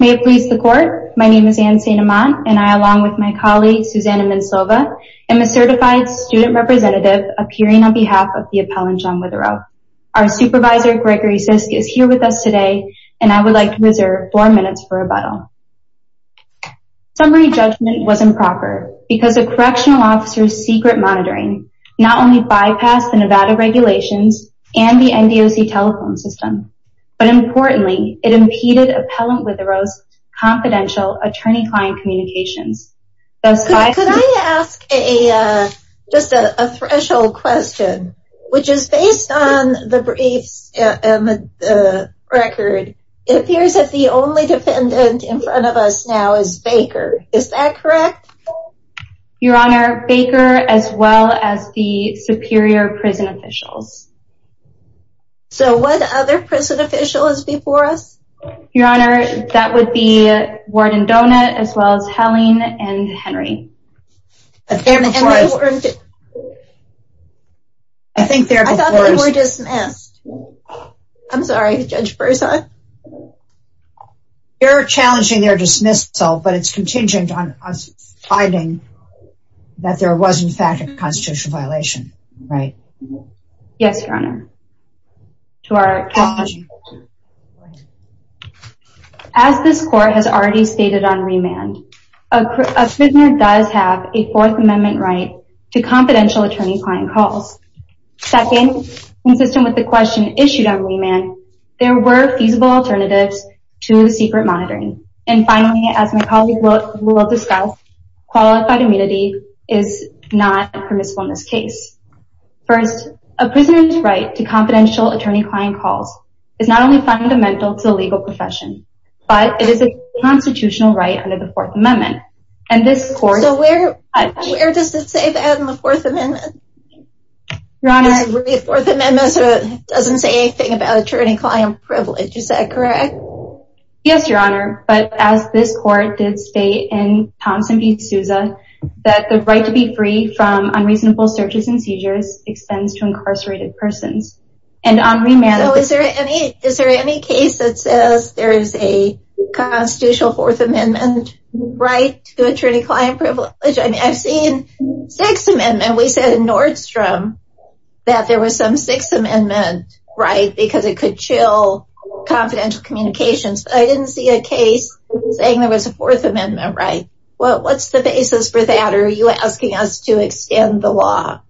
May it please the Court, my name is Anne St. Amant, and I, along with my colleague, Susanna Minsova, am a certified student representative appearing on behalf of the Appellant John Witherow. Our supervisor, Gregory Sisk, is here with us today, and I would like to reserve four minutes for rebuttal. Summary judgment was improper because a correctional officer's secret monitoring not only bypassed the Nevada regulations and the NDOC telephone system, but importantly, it impeded Appellant Witherow's confidential attorney-client communications. Could I ask just a threshold question? Which is based on the briefs and the record, it appears that the only defendant in front of us now is Baker. Is that correct? Your Honor, Baker as well as the superior prison officials. So what other prison officials before us? Your Honor, that would be Warden Donut, as well as Helene and Henry. I thought they were dismissed. I'm sorry, Judge Berzon. They're challenging their dismissal, but it's contingent on us finding that there was, in fact, a constitutional violation, right? Yes, Your Honor. As this court has already stated on remand, a prisoner does have a Fourth Amendment right to confidential attorney-client calls. Second, consistent with the question issued on remand, there were feasible alternatives to secret monitoring. And finally, as my colleague will discuss, qualified immunity is not permissible in this case. First, a prisoner's right to confidential attorney-client calls is not only fundamental to the legal profession, but it is a constitutional right under the Fourth Amendment. So where does it say that in the Fourth Amendment? It doesn't say anything about attorney-client privilege, is that correct? Yes, Your Honor, but as this court did state in Thompson v. Souza, that the right to be free from unreasonable searches and seizures extends to incarcerated persons. So is there any case that says there is a constitutional Fourth Amendment right to attorney-client privilege? I've seen Sixth Amendment. We said in Nordstrom that there was some Sixth Amendment right because it could chill confidential communications. But I didn't see a case saying there was a Fourth Amendment right. What's the basis for that, or are you asking us to extend the law?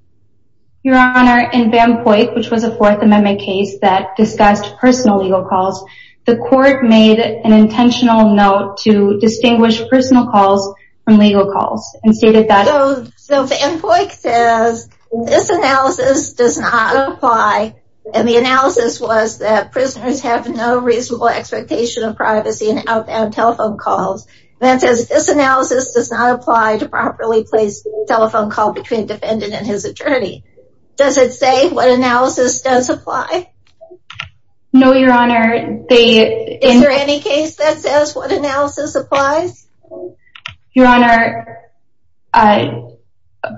Your Honor, in Van Poyck, which was a Fourth Amendment case that discussed personal legal calls, the court made an intentional note to distinguish personal calls from legal calls. So Van Poyck says, this analysis does not apply, and the analysis was that prisoners have no reasonable expectation of privacy and outbound telephone calls. Van says, this analysis does not apply to properly placed telephone call between defendant and his attorney. Does it say what analysis does apply? No, Your Honor. Is there any case that says what analysis applies? Your Honor,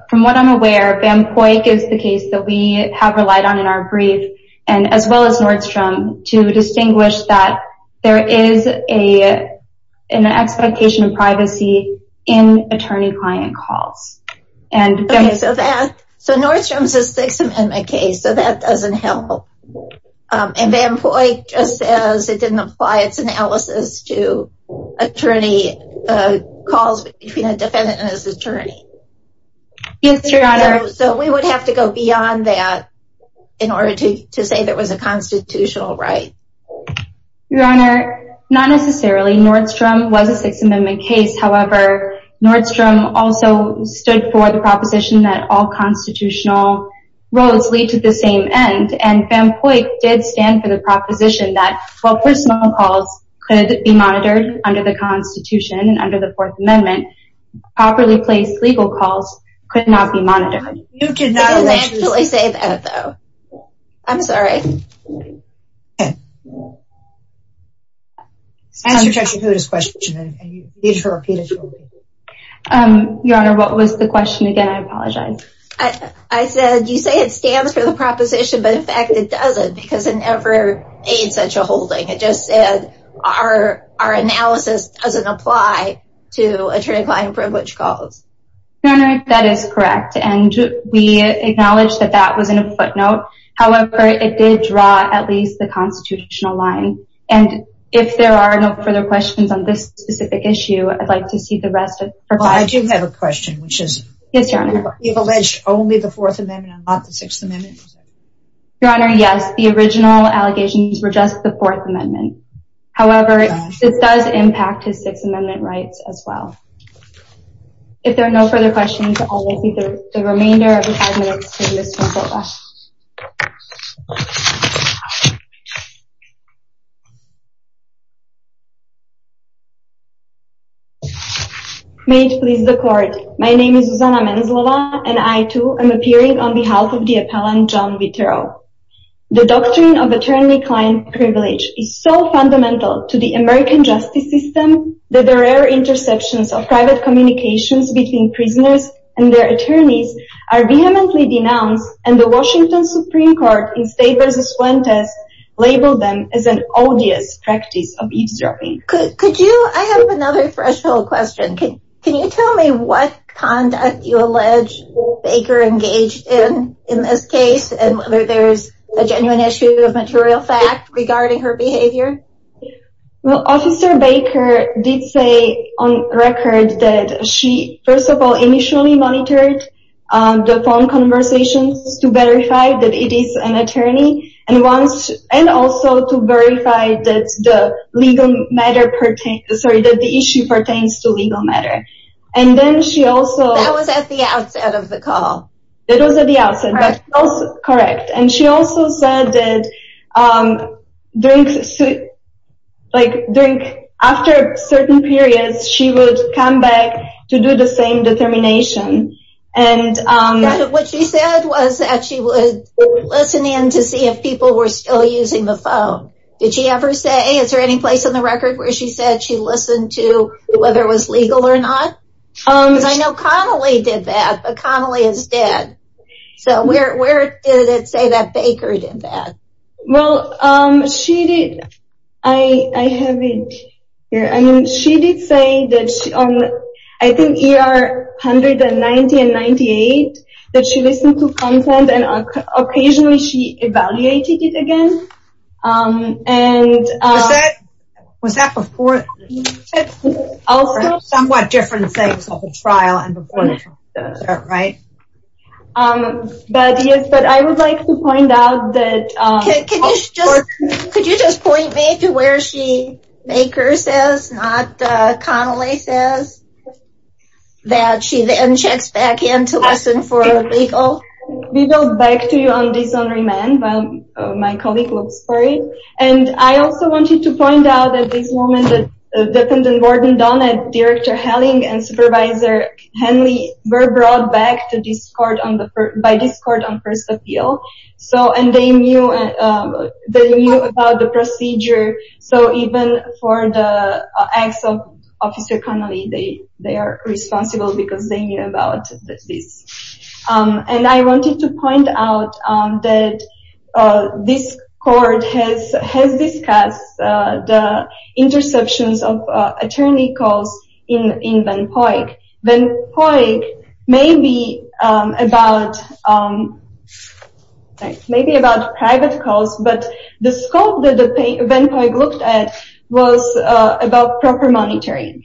from what I'm aware, Van Poyck is the case that we have relied on in our brief, as well as Nordstrom, to distinguish that there is an expectation of privacy in attorney-client calls. Okay, so Nordstrom is a Sixth Amendment case, so that doesn't help. And Van Poyck just says it didn't apply its analysis to attorney calls between a defendant and his attorney. Yes, Your Honor. So we would have to go beyond that in order to say there was a constitutional right. Your Honor, not necessarily. Nordstrom was a Sixth Amendment case. However, Nordstrom also stood for the proposition that all constitutional roles lead to the same end. And Van Poyck did stand for the proposition that, while personal calls could be monitored under the Constitution and under the Fourth Amendment, properly placed legal calls could not be monitored. He did not actually say that, though. I'm sorry. Okay. Answer Judge Dakota's question. Your Honor, what was the question again? I apologize. I said, you say it stands for the proposition, but in fact it doesn't because it never made such a holding. It just said our analysis doesn't apply to attorney-client privilege calls. Your Honor, that is correct, and we acknowledge that that was in a footnote. However, it did draw at least the constitutional line. And if there are no further questions on this specific issue, I'd like to see the rest of the... Well, I do have a question, which is... Yes, Your Honor. You've alleged only the Fourth Amendment and not the Sixth Amendment. Your Honor, yes. The original allegations were just the Fourth Amendment. However, this does impact his Sixth Amendment rights as well. If there are no further questions, I'll give the remainder of the five minutes to Ms. Zvonkova. May it please the Court, my name is Zuzana Menzlova, and I, too, am appearing on behalf of the appellant John Vitero. The doctrine of attorney-client privilege is so fundamental to the American justice system that the rare interceptions of private communications between prisoners and their attorneys are vehemently denounced and the Washington Supreme Court in State v. Fuentes labeled them as an odious practice of eavesdropping. Could you... I have another threshold question. Can you tell me what conduct you allege Baker engaged in in this case and whether there's a genuine issue of material fact regarding her behavior? Well, Officer Baker did say on record that she, first of all, initially monitored the phone conversations to verify that it is an attorney and also to verify that the issue pertains to legal matter. And then she also... That was at the outset of the call. It was at the outset. Correct. And she also said that after certain periods, she would come back to do the same determination. What she said was that she would listen in to see if people were still using the phone. Did she ever say... Is there any place on the record where she said she listened to whether it was legal or not? Because I know Connolly did that, but Connolly is dead. So where did it say that Baker did that? Well, she did... I have it here. I mean, she did say that on, I think, ER 190 and 98, that she listened to content and occasionally she evaluated it again. Was that before? Also... Somewhat different things on the trial and before, right? But yes, but I would like to point out that... Could you just point me to where she, Baker says, not Connolly says, that she then checks back in to listen for legal? We go back to you on dishonoring men while my colleague looks for it. And I also want you to point out at this moment that the defendant, Warden Donnett, Director Helling, and Supervisor Henley were brought back by this court on first appeal. And they knew about the procedure. So even for the acts of Officer Connolly, they are responsible because they knew about this. And I wanted to point out that this court has discussed the interceptions of attorney calls in Van Poyck. Van Poyck may be about private calls, but the scope that Van Poyck looked at was about proper monitoring.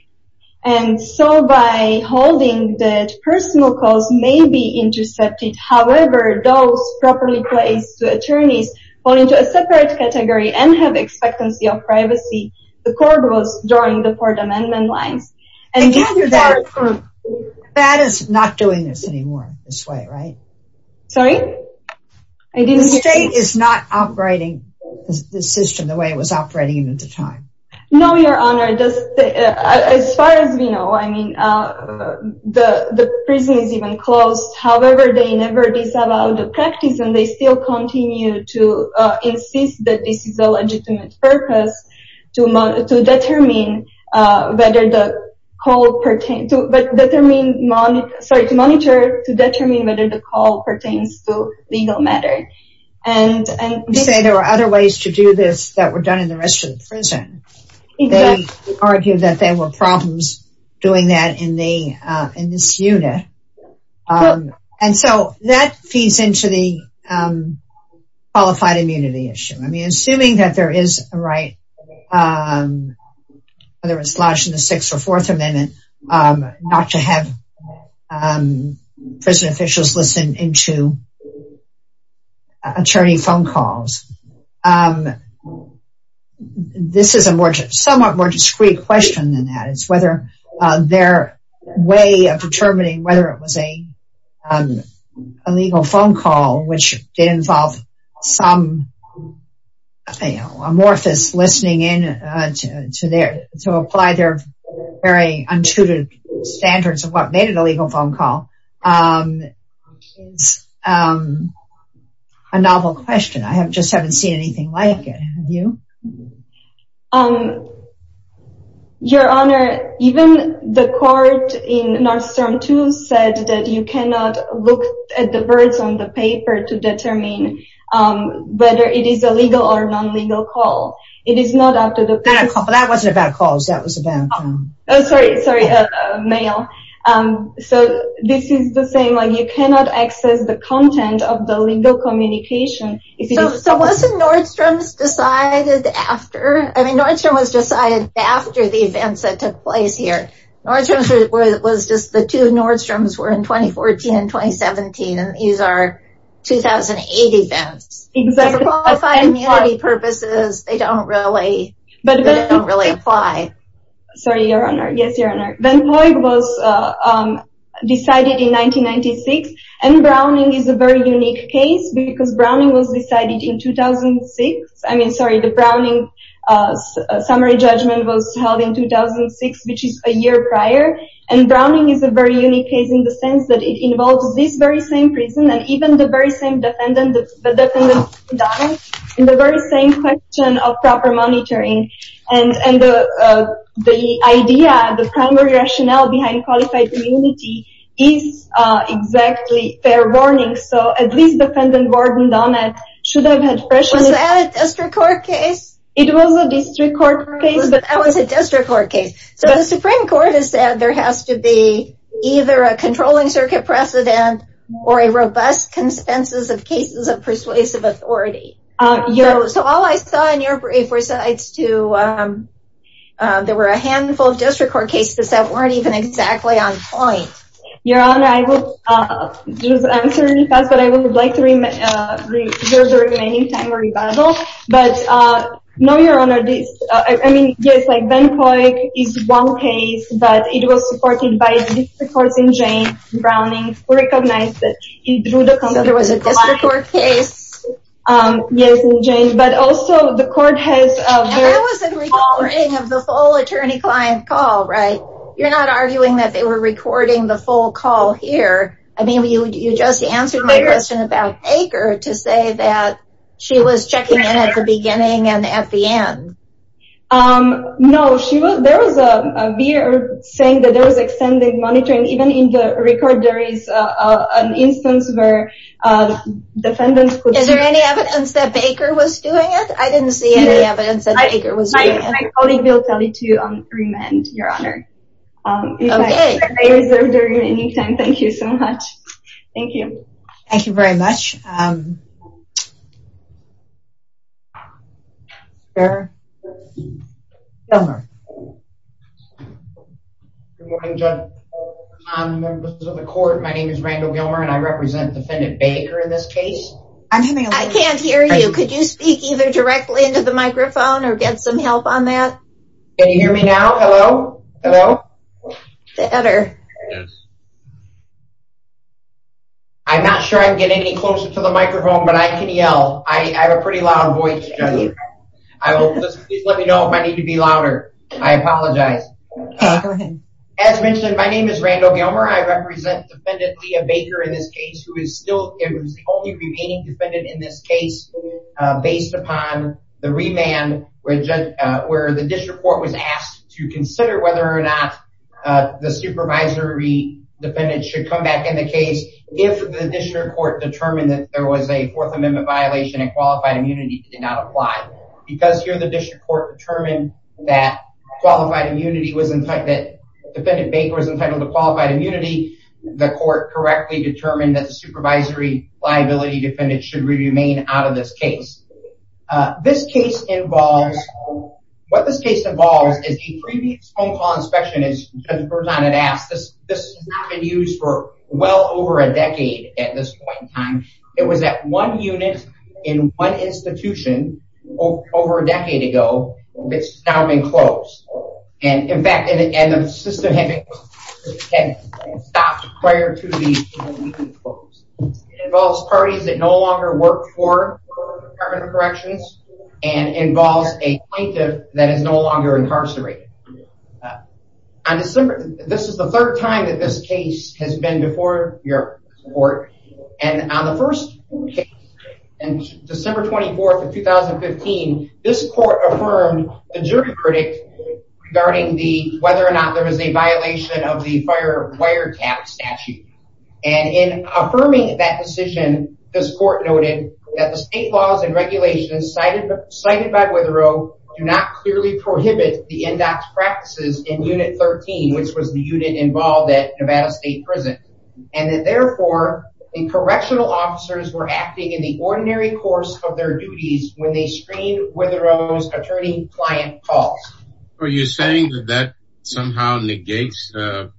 And so by holding that personal calls may be intercepted, however those properly placed attorneys fall into a separate category and have expectancy of privacy. The court was drawing the court amendment lines. And gather that... That is not doing this anymore, this way, right? Sorry? The state is not operating the system the way it was operating at the time. No, Your Honor. As far as we know, the prison is even closed. However, they never disavowed the practice and they still continue to insist that this is a legitimate purpose to determine whether the call pertains to legal matter. You say there are other ways to do this that were done in the rest of the prison. They argued that there were problems doing that in this unit. And so that feeds into the qualified immunity issue. I mean, assuming that there is a right, whether it's lodged in the Sixth or Fourth Amendment, not to have prison officials listen into attorney phone calls. This is a somewhat more discreet question than that. It's whether their way of determining whether it was a legal phone call which involved some amorphous listening in to apply their very untutored standards of what made it a legal phone call. It's a novel question. I just haven't seen anything like it. Have you? Your Honor, even the court in Nordstrom 2 said that you cannot look at the words on the paper to determine whether it is a legal or non-legal call. That wasn't about calls. That was about mail. So this is the same. You cannot access the content of the legal communication. So wasn't Nordstrom decided after? I mean, Nordstrom was decided after the events that took place here. Nordstrom was just the two Nordstroms were in 2014 and 2017. And these are 2008 events. For qualified immunity purposes, they don't really apply. Sorry, Your Honor. Yes, Your Honor. Van Vooi was decided in 1996. And Browning is a very unique case because Browning was decided in 2006. I mean, sorry, the Browning summary judgment was held in 2006, which is a year prior. And Browning is a very unique case in the sense that it involves this very same prison and even the very same defendant in the very same question of proper monitoring. And the idea, the primary rationale behind qualified immunity is exactly fair warning. So at least defendant Ward and Donnett should have had pressure. Was that a district court case? It was a district court case. That was a district court case. So the Supreme Court has said there has to be either a controlling circuit precedent or a robust consensus of cases of persuasive authority. So all I saw in your brief was that there were a handful of district court cases that weren't even exactly on point. Your Honor, I will just answer in advance, but I would like to reserve the remaining time for rebuttal. But no, Your Honor. I mean, yes, Van Vooi is one case, but it was supported by the district courts in Jane, Browning. So there was a district court case? Yes, in Jane. But also the court has... That was a recording of the full attorney-client call, right? You're not arguing that they were recording the full call here. I mean, you just answered my question about Baker to say that she was checking in at the beginning and at the end. No, there was a VA saying that there was extended monitoring. Even in the record, there is an instance where defendants could see... Is there any evidence that Baker was doing it? I didn't see any evidence that Baker was doing it. My colleague will tell you to remand, Your Honor. Okay. If I reserve the remaining time, thank you so much. Thank you. Thank you very much. Sir? Gilmer. Good morning, Judge. Members of the court, my name is Randall Gilmer, and I represent Defendant Baker in this case. I can't hear you. Could you speak either directly into the microphone or get some help on that? Can you hear me now? Hello? Hello? Better. Yes. I'm not sure I'm getting any closer to the microphone, but I can yell. I have a pretty loud voice, Judge. Please let me know if I need to be louder. I apologize. Go ahead. As mentioned, my name is Randall Gilmer. I represent Defendant Leah Baker in this case, who is the only remaining defendant in this case based upon the remand where the district court was asked to consider whether or not the supervisory defendant should come back in the case if the district court determined that there was a Fourth Amendment violation and qualified immunity did not apply. Because here the district court determined that Defendant Baker was entitled to qualified immunity, the court correctly determined that the supervisory liability defendant should remain out of this case. What this case involves is a previous phone call inspection, as Judge Berzon had asked, this has not been used for well over a decade at this point in time. It was at one unit in one institution over a decade ago. It's now been closed. In fact, the system had been stopped prior to the institution being closed. It involves parties that no longer work for Department of Corrections and involves a plaintiff that is no longer incarcerated. This is the third time that this case has been before your court. On the first case, December 24th of 2015, this court affirmed the jury predict regarding whether or not there was a violation of the fire wiretap statute. And in affirming that decision, this court noted that the state laws and regulations cited by Witherow do not clearly prohibit the index practices in Unit 13, which was the unit involved at Nevada State Prison. And that therefore, the correctional officers were acting in the ordinary course of their duties when they screened Witherow's attorney client calls. Are you saying that that somehow negates the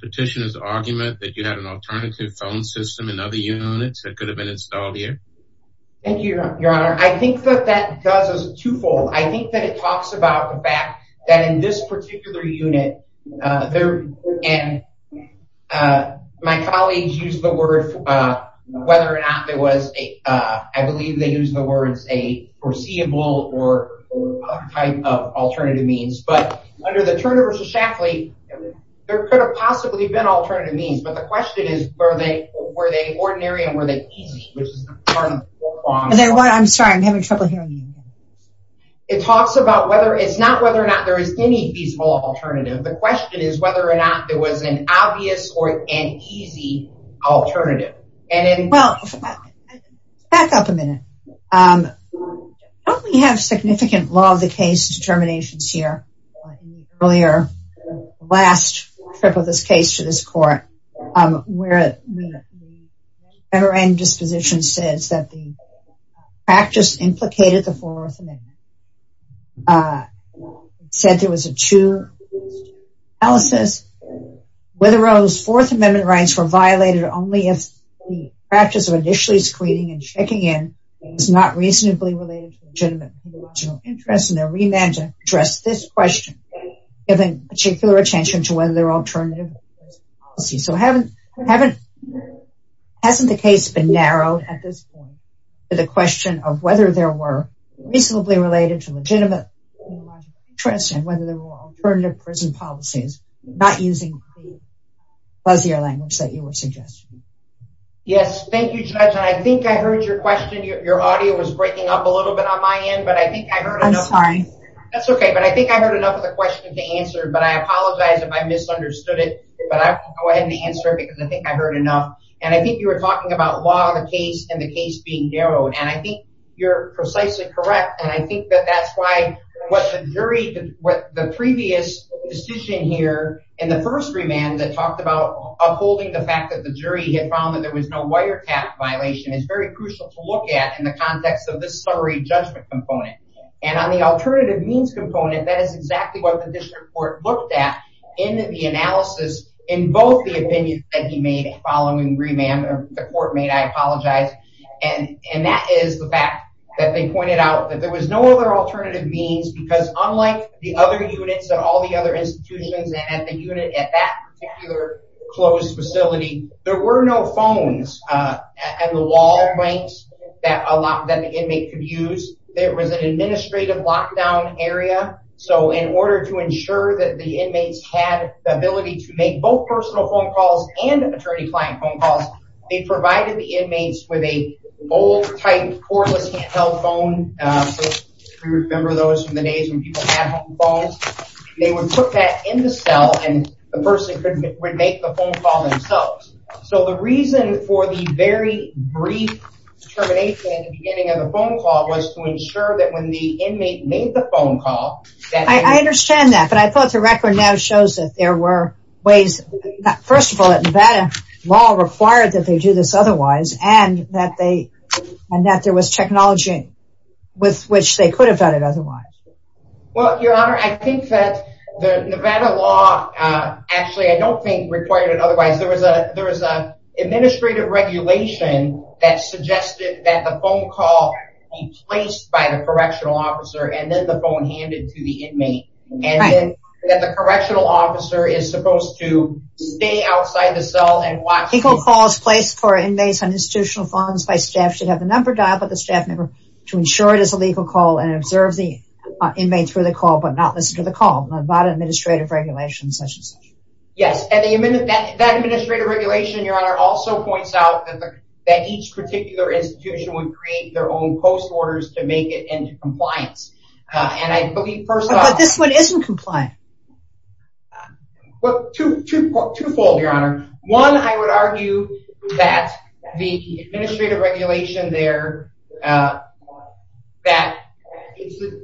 petitioner's argument that you have an alternative phone system in other units that could have been installed here? Thank you, Your Honor. I think that that does is twofold. I think that it talks about the fact that in this particular unit, and my colleagues used the word whether or not there was a, I believe they used the words a foreseeable or other type of alternative means. But under the Turner v. Shaftley, there could have possibly been alternative means. But the question is, were they ordinary and were they easy? I'm sorry, I'm having trouble hearing you. It talks about whether it's not whether or not there is any feasible alternative. The question is whether or not there was an obvious or an easy alternative. Well, back up a minute. Don't we have significant law of the case determinations here? Earlier, the last trip of this case to this court, where the federal disposition says that the practice implicated the Fourth Amendment. It said there was a two-step analysis. Witherow's Fourth Amendment rights were violated only if the practice of initially screening and checking in is not reasonably related to legitimate interests in their remand to address this question, given particular attention to whether there are alternative policies. So hasn't the case been narrowed at this point to the question of whether there were reasonably related to legitimate interests and whether there were alternative prison policies, not using the buzzier language that you were suggesting. Yes, thank you, Judge. And I think I heard your question. Your audio was breaking up a little bit on my end, but I think I heard enough. I'm sorry. That's okay, but I think I heard enough of the question to answer, but I apologize if I misunderstood it. But I'll go ahead and answer it because I think I heard enough. And I think you were talking about law of the case and the case being narrowed. And I think you're precisely correct. And I think that that's why what the jury, what the previous decision here in the first remand that talked about upholding the fact that the jury had found that there was no wiretap violation is very crucial to look at in the context of this summary judgment component. And on the alternative means component, that is exactly what the district court looked at in the analysis in both the opinions that he made following remand, or the court made, I apologize. And that is the fact that they pointed out that there was no other alternative means because unlike the other units at all the other institutions and at the particular closed facility, there were no phones at the wall ranks that a lot that the inmate could use. There was an administrative lockdown area. So in order to ensure that the inmates had the ability to make both personal phone calls and attorney client phone calls, they provided the inmates with a old type cordless handheld phone. If you remember those from the days when people had home phones, they would put that in the cell and the person would make the phone call themselves. So the reason for the very brief termination at the beginning of the phone call was to ensure that when the inmate made the phone call. I understand that. But I thought the record now shows that there were ways. First of all, Nevada law required that they do this otherwise and that they, and that there was technology with which they could have done it otherwise. Well, Your Honor, I think that the Nevada law, actually I don't think required it otherwise. There was a, there was a administrative regulation that suggested that the phone call be placed by the correctional officer and then the phone handed to the inmate. And then that the correctional officer is supposed to stay outside the cell and watch. Equal calls placed for inmates on institutional funds by staff should have a number dialed by the staff member to ensure it is a legal call and observe the inmates for the call, but not listen to the call. Nevada administrative regulations, such and such. Yes. And that administrative regulation, Your Honor, also points out that each particular institution would create their own post orders to make it into compliance. And I believe first off... But this one isn't compliant. Well, twofold, Your Honor. One, I would argue that the administrative regulation there, that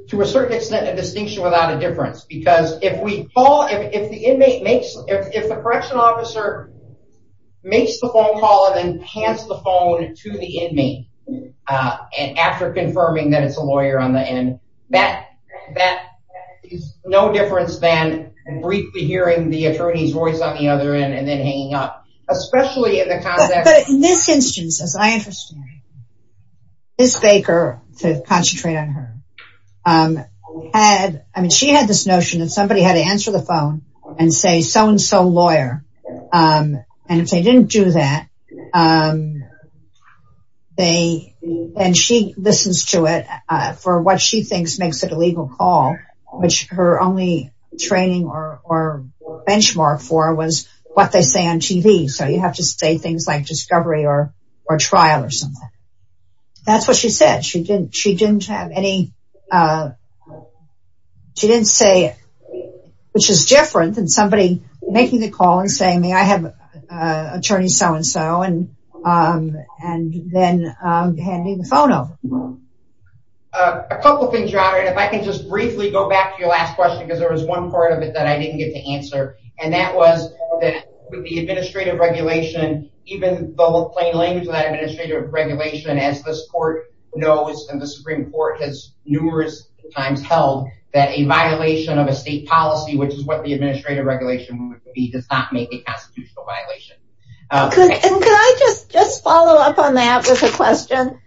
to a certain extent, a distinction without a difference because if we call, if the inmate makes, if the correctional officer makes the phone call and then hands the phone to the inmate, and after confirming that it's a lawyer on the end, that is no difference than briefly hearing the attorney's voice on the other end and then hanging up. Especially in the context... Ms. Baker, to concentrate on her, she had this notion that somebody had to answer the phone and say, so and so lawyer. And if they didn't do that, and she listens to it for what she thinks makes it a legal call, which her only training or benchmark for was what they say on TV. So you have to say things like discovery or trial or something. That's what she said. She didn't have any, she didn't say, which is different than somebody making the call and saying, I have attorney so and so and then handing the phone over. A couple of things, Your Honor. If I can just briefly go back to your last question, because there was one part of it that I didn't get to answer. And that was that with the administrative regulation, even the plain language of that administrative regulation, as this court knows, and the Supreme Court has numerous times held, that a violation of a state policy, which is what the administrative regulation would be, does not make a constitutional violation. Could I just follow up on that with a question?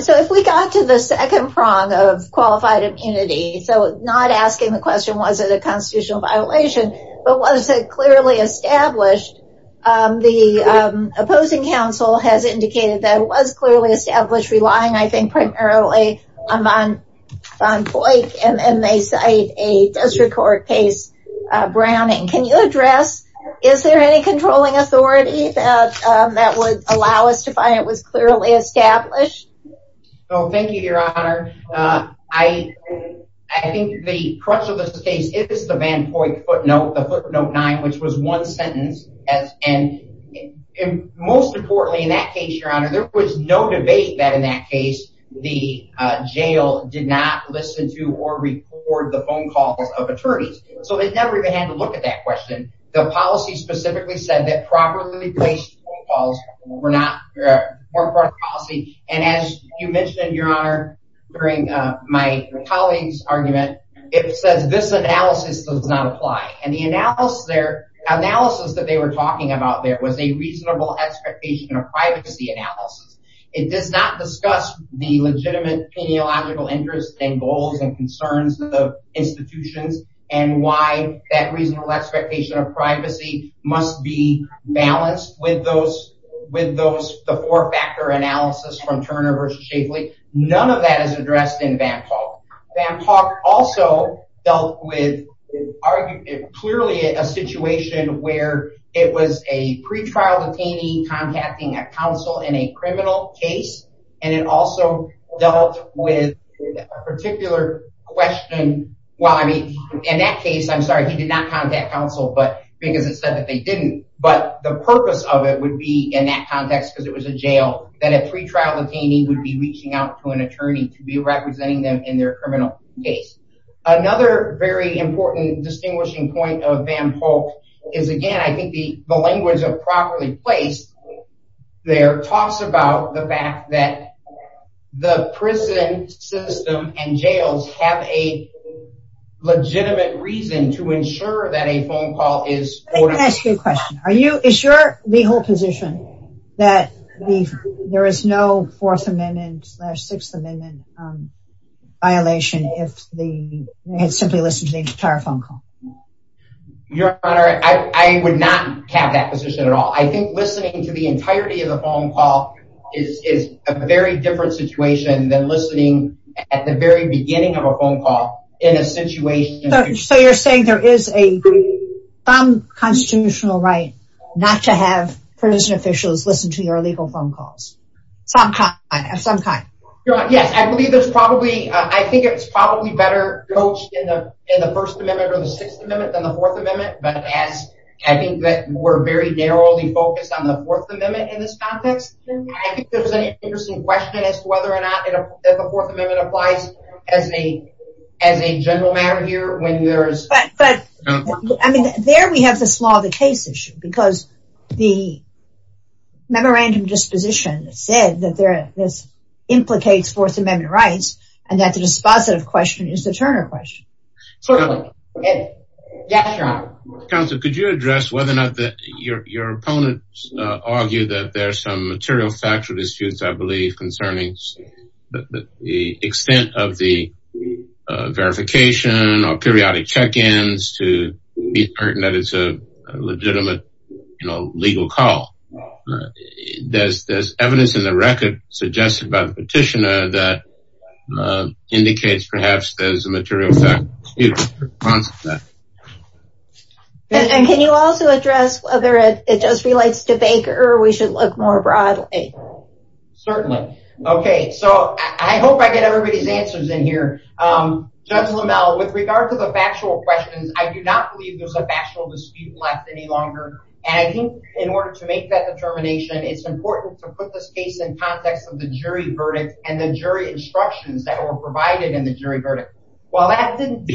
So if we got to the second prong of qualified immunity, so not asking the question, was it a constitutional violation, but was it clearly established? The opposing counsel has indicated that it was clearly established, relying, I think, primarily on Van Poyck, and they cite a district court case, Browning. Can you address, is there any controlling authority that would allow us to find it was clearly established? Oh, thank you, Your Honor. I think the crux of this case is the Van Poyck footnote, the footnote nine, which was one sentence. And most importantly, in that case, Your Honor, there was no debate that in that case, the jail did not listen to or record the phone calls of attorneys. So they never even had to look at that question. The policy specifically said that properly placed phone calls were not, weren't part of the policy. And as you mentioned, Your Honor, during my colleague's argument, it says this analysis does not apply. And the analysis there, analysis that they were talking about there was a reasonable expectation of privacy analysis. It does not discuss the legitimate penealogical interests and goals and concerns of institutions and why that reasonable expectation of privacy must be balanced with those, with those, the four factor analysis from Turner versus Shafley. None of that is addressed in Van Poyck. Van Poyck also dealt with clearly a situation where it was a pretrial detainee contacting a counsel in a criminal case. And it also dealt with a particular question. Well, I mean, in that case, I'm sorry, he did not contact counsel, but because it said that they didn't, but the purpose of it would be in that context, because it was a jail that a pretrial detainee would be reaching out to an attorney to be representing them in their criminal case. Another very important distinguishing point of Van Poyck is again, I think the language of properly placed there talks about the fact that the prison system and jails have a legitimate reason to ensure that a phone call is a constitutional right. Are you, is your, the whole position that there is no fourth amendment slash sixth amendment violation if they had simply listened to the entire phone call? Your honor, I would not have that position at all. I think listening to the entirety of the phone call is a very different situation than listening at the very beginning of a phone call in a situation. So you're saying there is a constitutional right not to have prison officials listen to your legal phone calls? Some kind of some kind. Your honor, yes. I believe there's probably, I think it's probably better coached in the first amendment or the sixth amendment than the fourth amendment. But as I think that we're very narrowly focused on the fourth amendment in this context, I think there's an interesting question as to whether or not the fourth amendment applies as a, as a general matter here when there is. But there we have this law of the case issue because the memorandum disposition said that there, this implicates fourth amendment rights and that the dispositive question is the Turner question. Yes, your honor. Counsel, could you address whether or not that your, your opponents argue that there's some material factual disputes, I believe concerning the extent of the verification or periodic check-ins to be pertinent. It's a legitimate legal call. There's evidence in the record suggested by the petitioner that indicates perhaps there's a material fact. And can you also address whether it, it just relates to Baker or we should look more broadly. Hey, certainly. Okay. So I hope I get everybody's answers in here. Judges LaMelle with regard to the factual questions, I do not believe there's a factual dispute left any longer. And I think in order to make that determination, it's important to put this case in context of the jury verdict and the jury instructions that were provided in the jury verdict. Well, that didn't do.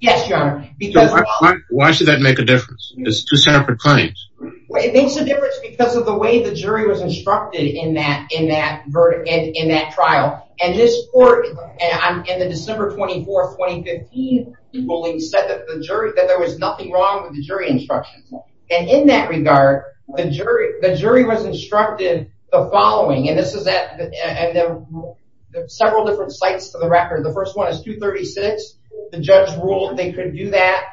Yes, your honor. Why should that make a difference? Well, it makes a difference because of the way the jury was instructed in that, in that verdict and in that trial. And this court in the December 24th, 2015, the ruling said that the jury, that there was nothing wrong with the jury instructions. And in that regard, the jury, the jury was instructed the following, and this is at several different sites for the record. The first one is 236. The judge ruled they could do that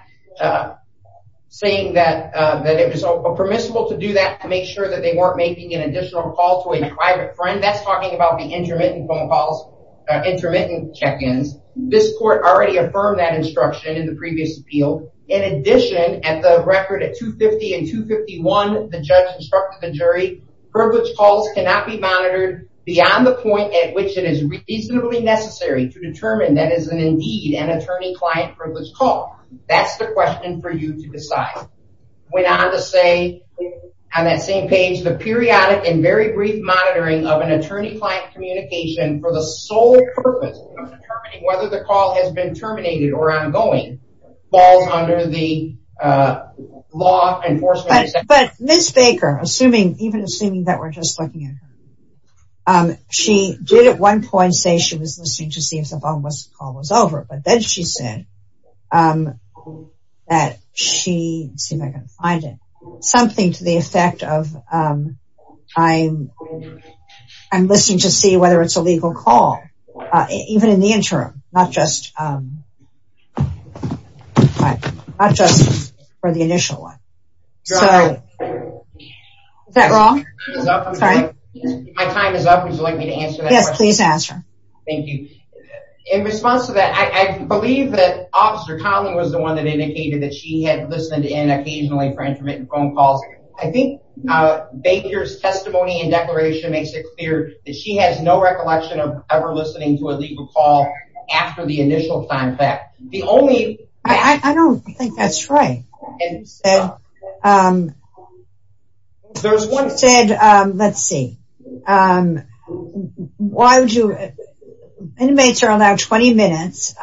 saying that, that it was permissible to do that to make sure that they weren't making an additional call to a private friend. That's talking about the intermittent phone calls, intermittent check-ins. This court already affirmed that instruction in the previous appeal. In addition, at the record at 250 and 251, the judge instructed the jury privilege calls cannot be monitored beyond the point at which it is reasonably necessary to determine that as an indeed an attorney client for this call. That's the question for you to decide. Went on to say on that same page, the periodic and very brief monitoring of an attorney client communication for the sole purpose of determining whether the call has been terminated or ongoing falls under the law enforcement. But Ms. Baker, assuming even assuming that we're just looking at her, she did at one point say she was listening to see if the phone call was over, but then she said that she, see if I can find it, something to the effect of I'm listening to see whether it's a legal call, even in the interim, not just for the initial one. Is that wrong? My time is up. Would you like me to answer that? Yes, please answer. Thank you. In response to that, I believe that officer Collin was the one that indicated that she had listened in occasionally for intermittent phone calls. I think Baker's testimony and declaration makes it clear that she has no recollection of ever listening to a legal call after the initial time that the only, I don't think that's right. And there's one said, let's see, why would you inmates are allowed 20 minutes.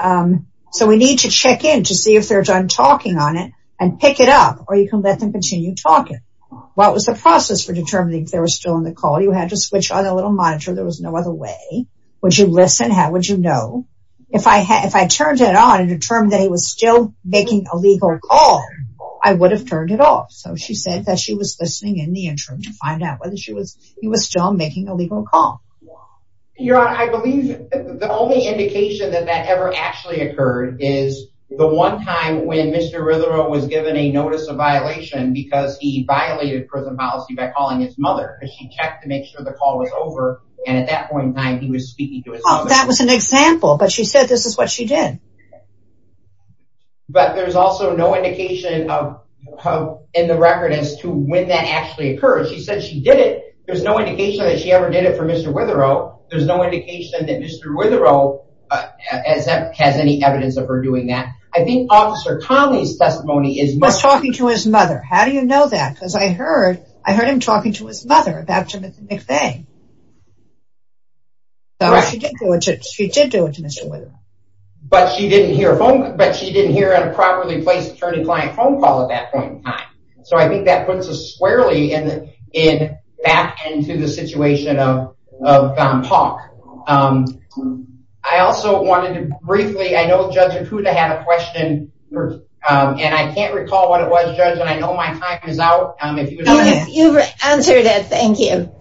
So we need to check in to see if they're done talking on it and pick it up or you can let them continue talking. What was the process for determining if there was still in the call? You had to switch on a little monitor. There was no other way. Would you listen? How would you know if I had, if I turned it on and determined that he was still making a legal call, I would have turned it off. So she said that she was listening in the interim to find out whether she was, he was still making a legal call. You're on. I believe the only indication that that ever actually occurred is the one time when Mr. Rutherford was given a notice of violation because he violated prison policy by calling his mother. She checked to make sure the call was over. And at that point in time, he was speaking to his mom. That was an example, but she said, this is what she did, but there's also no indication of, of in the record as to when that actually occurred. She said she did it. There's no indication that she ever did it for Mr. Witherow. There's no indication that Mr. Witherow has any evidence of her doing that. I think officer Conley's testimony is. He was talking to his mother. How do you know that? Because I heard, I heard him talking to his mother about Jim McVeigh. She did do it to Mr. Witherow. But she didn't hear a phone, but she didn't hear a properly placed attorney client phone call at that point in time. So I think that puts us squarely in, in back into the situation of, of talk. I also wanted to briefly, I know judge Acuda had a question. And I can't recall what it was judge. And I know my time is out. You've answered it. Thank you.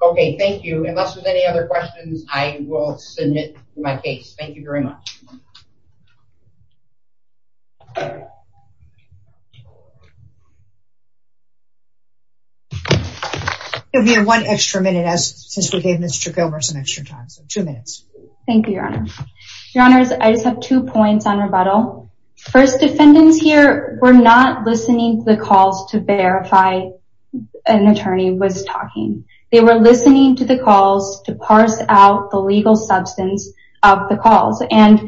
Okay. Thank you. Unless there's any other questions, I will submit my case. Thank you very much. We have one extra minute as we gave Mr. Gilmer some extra time. So two minutes. Thank you, your honor, your honors. I just have two points on rebuttal. First defendants here. We're not listening to the calls to verify an attorney was talking. They were listening to the calls to parse out the legal substance of the calls. And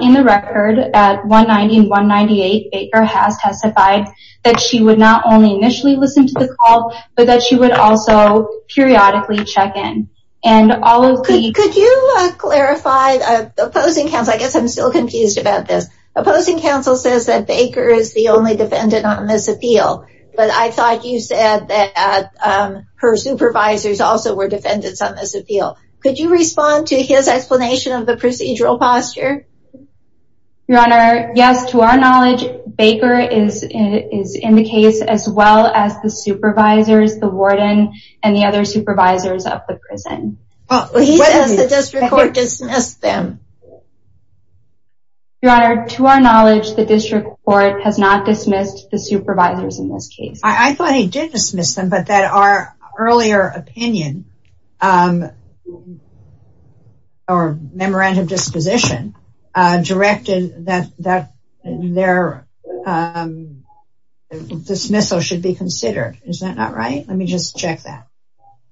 in the record at one 91 98, Baker has testified that she would not only initially listen to the call, but that she would also periodically check in and all. Could you clarify the opposing council? I guess I'm still confused about this opposing council says that Baker is the only defendant on this appeal, but I thought you said that her supervisors also were defendants on this appeal. Could you respond to his explanation of the procedural posture? Your honor. Yes. To our knowledge, Baker is, is in the case as well as the supervisors, the warden and the other supervisors of the prison. Well, he says the district court dismissed them. Your honor. To our knowledge, the district court has not dismissed the supervisors in this case. I thought he did dismiss them, but that our earlier opinion, um, or memorandum disposition, uh, directed that, that their, um, dismissal should be considered. Is that not right? Let me just check that.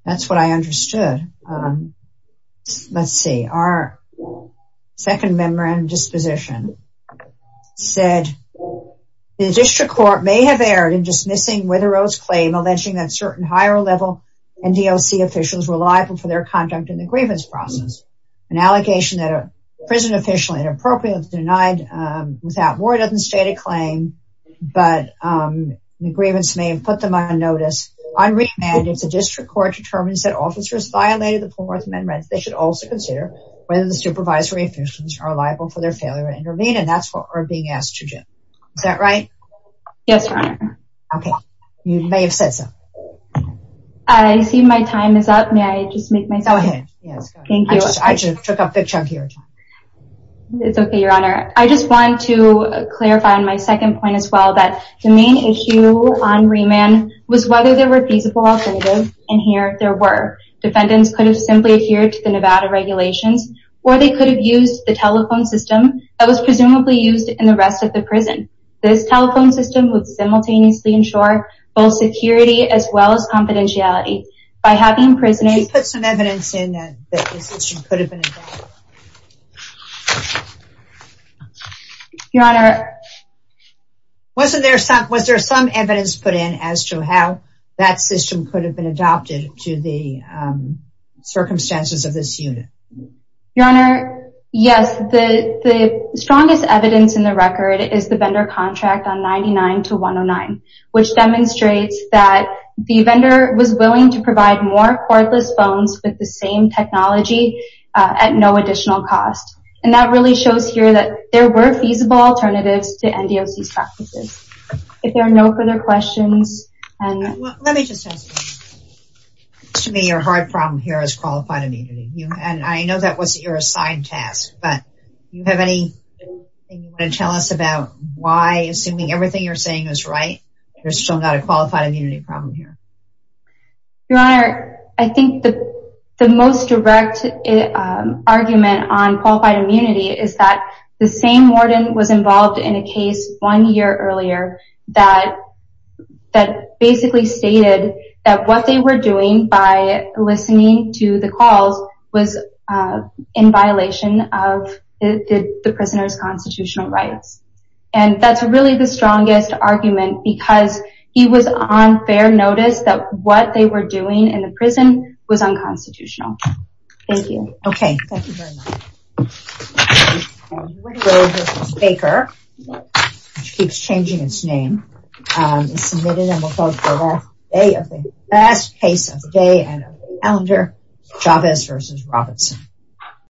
That's what I understood. Um, let's see. Our second member and disposition said the district court may have aired in dismissing with a rose claim, alleging that certain higher level and DLC officials were liable for their conduct in the grievance process. An allegation that a prison official inappropriate denied, um, without war doesn't state a claim, but, um, the grievance may have put them on notice on remand. It's a district court determines that officers violated the fourth amendment. They should also consider whether the supervisory officials are liable for their failure to intervene. And that's what we're being asked to do. Is that right? Yes, your honor. Okay. You may have said so. I see my time is up. May I just make myself. Thank you. I just took a picture of here. It's okay, your honor. I just want to clarify on my second point as well, that the main issue on remand was whether there were feasible alternatives in here. There were defendants could have simply adhered to the Nevada regulations or they could have used the telephone system that was presumably used in the rest of the prison. This telephone system would simultaneously ensure both security as well as confidentiality by having prison. Put some evidence in that. Your honor. Wasn't there some, was there some evidence put in as to how that system could have been adopted to the circumstances of this unit? Your honor. Yes. The strongest evidence in the record is the vendor contract on 99 to 109, which demonstrates that the vendor was willing to provide more cordless phones with the same technology at no additional cost. And that really shows here that there were feasible alternatives to NDOC's practices. If there are no further questions. Let me just ask you. To me, your hard problem here is qualified immunity. And I know that was your assigned task, but do you have anything you want to tell us about why, assuming everything you're saying is right, there's still not a qualified immunity problem here? Your honor. I think the most direct argument on qualified immunity is that the same warden was involved in a case one year earlier that, that basically stated that what they were doing by listening to the calls was in violation of the prisoner's constitutional rights. And that's really the strongest argument because he was on fair notice that what they were doing in the prison was unconstitutional. Thank you. Okay. Thank you very much. Baker, which keeps changing its name, is submitted and will vote for the last day of the last case of the day and calendar, Chavez versus Robertson.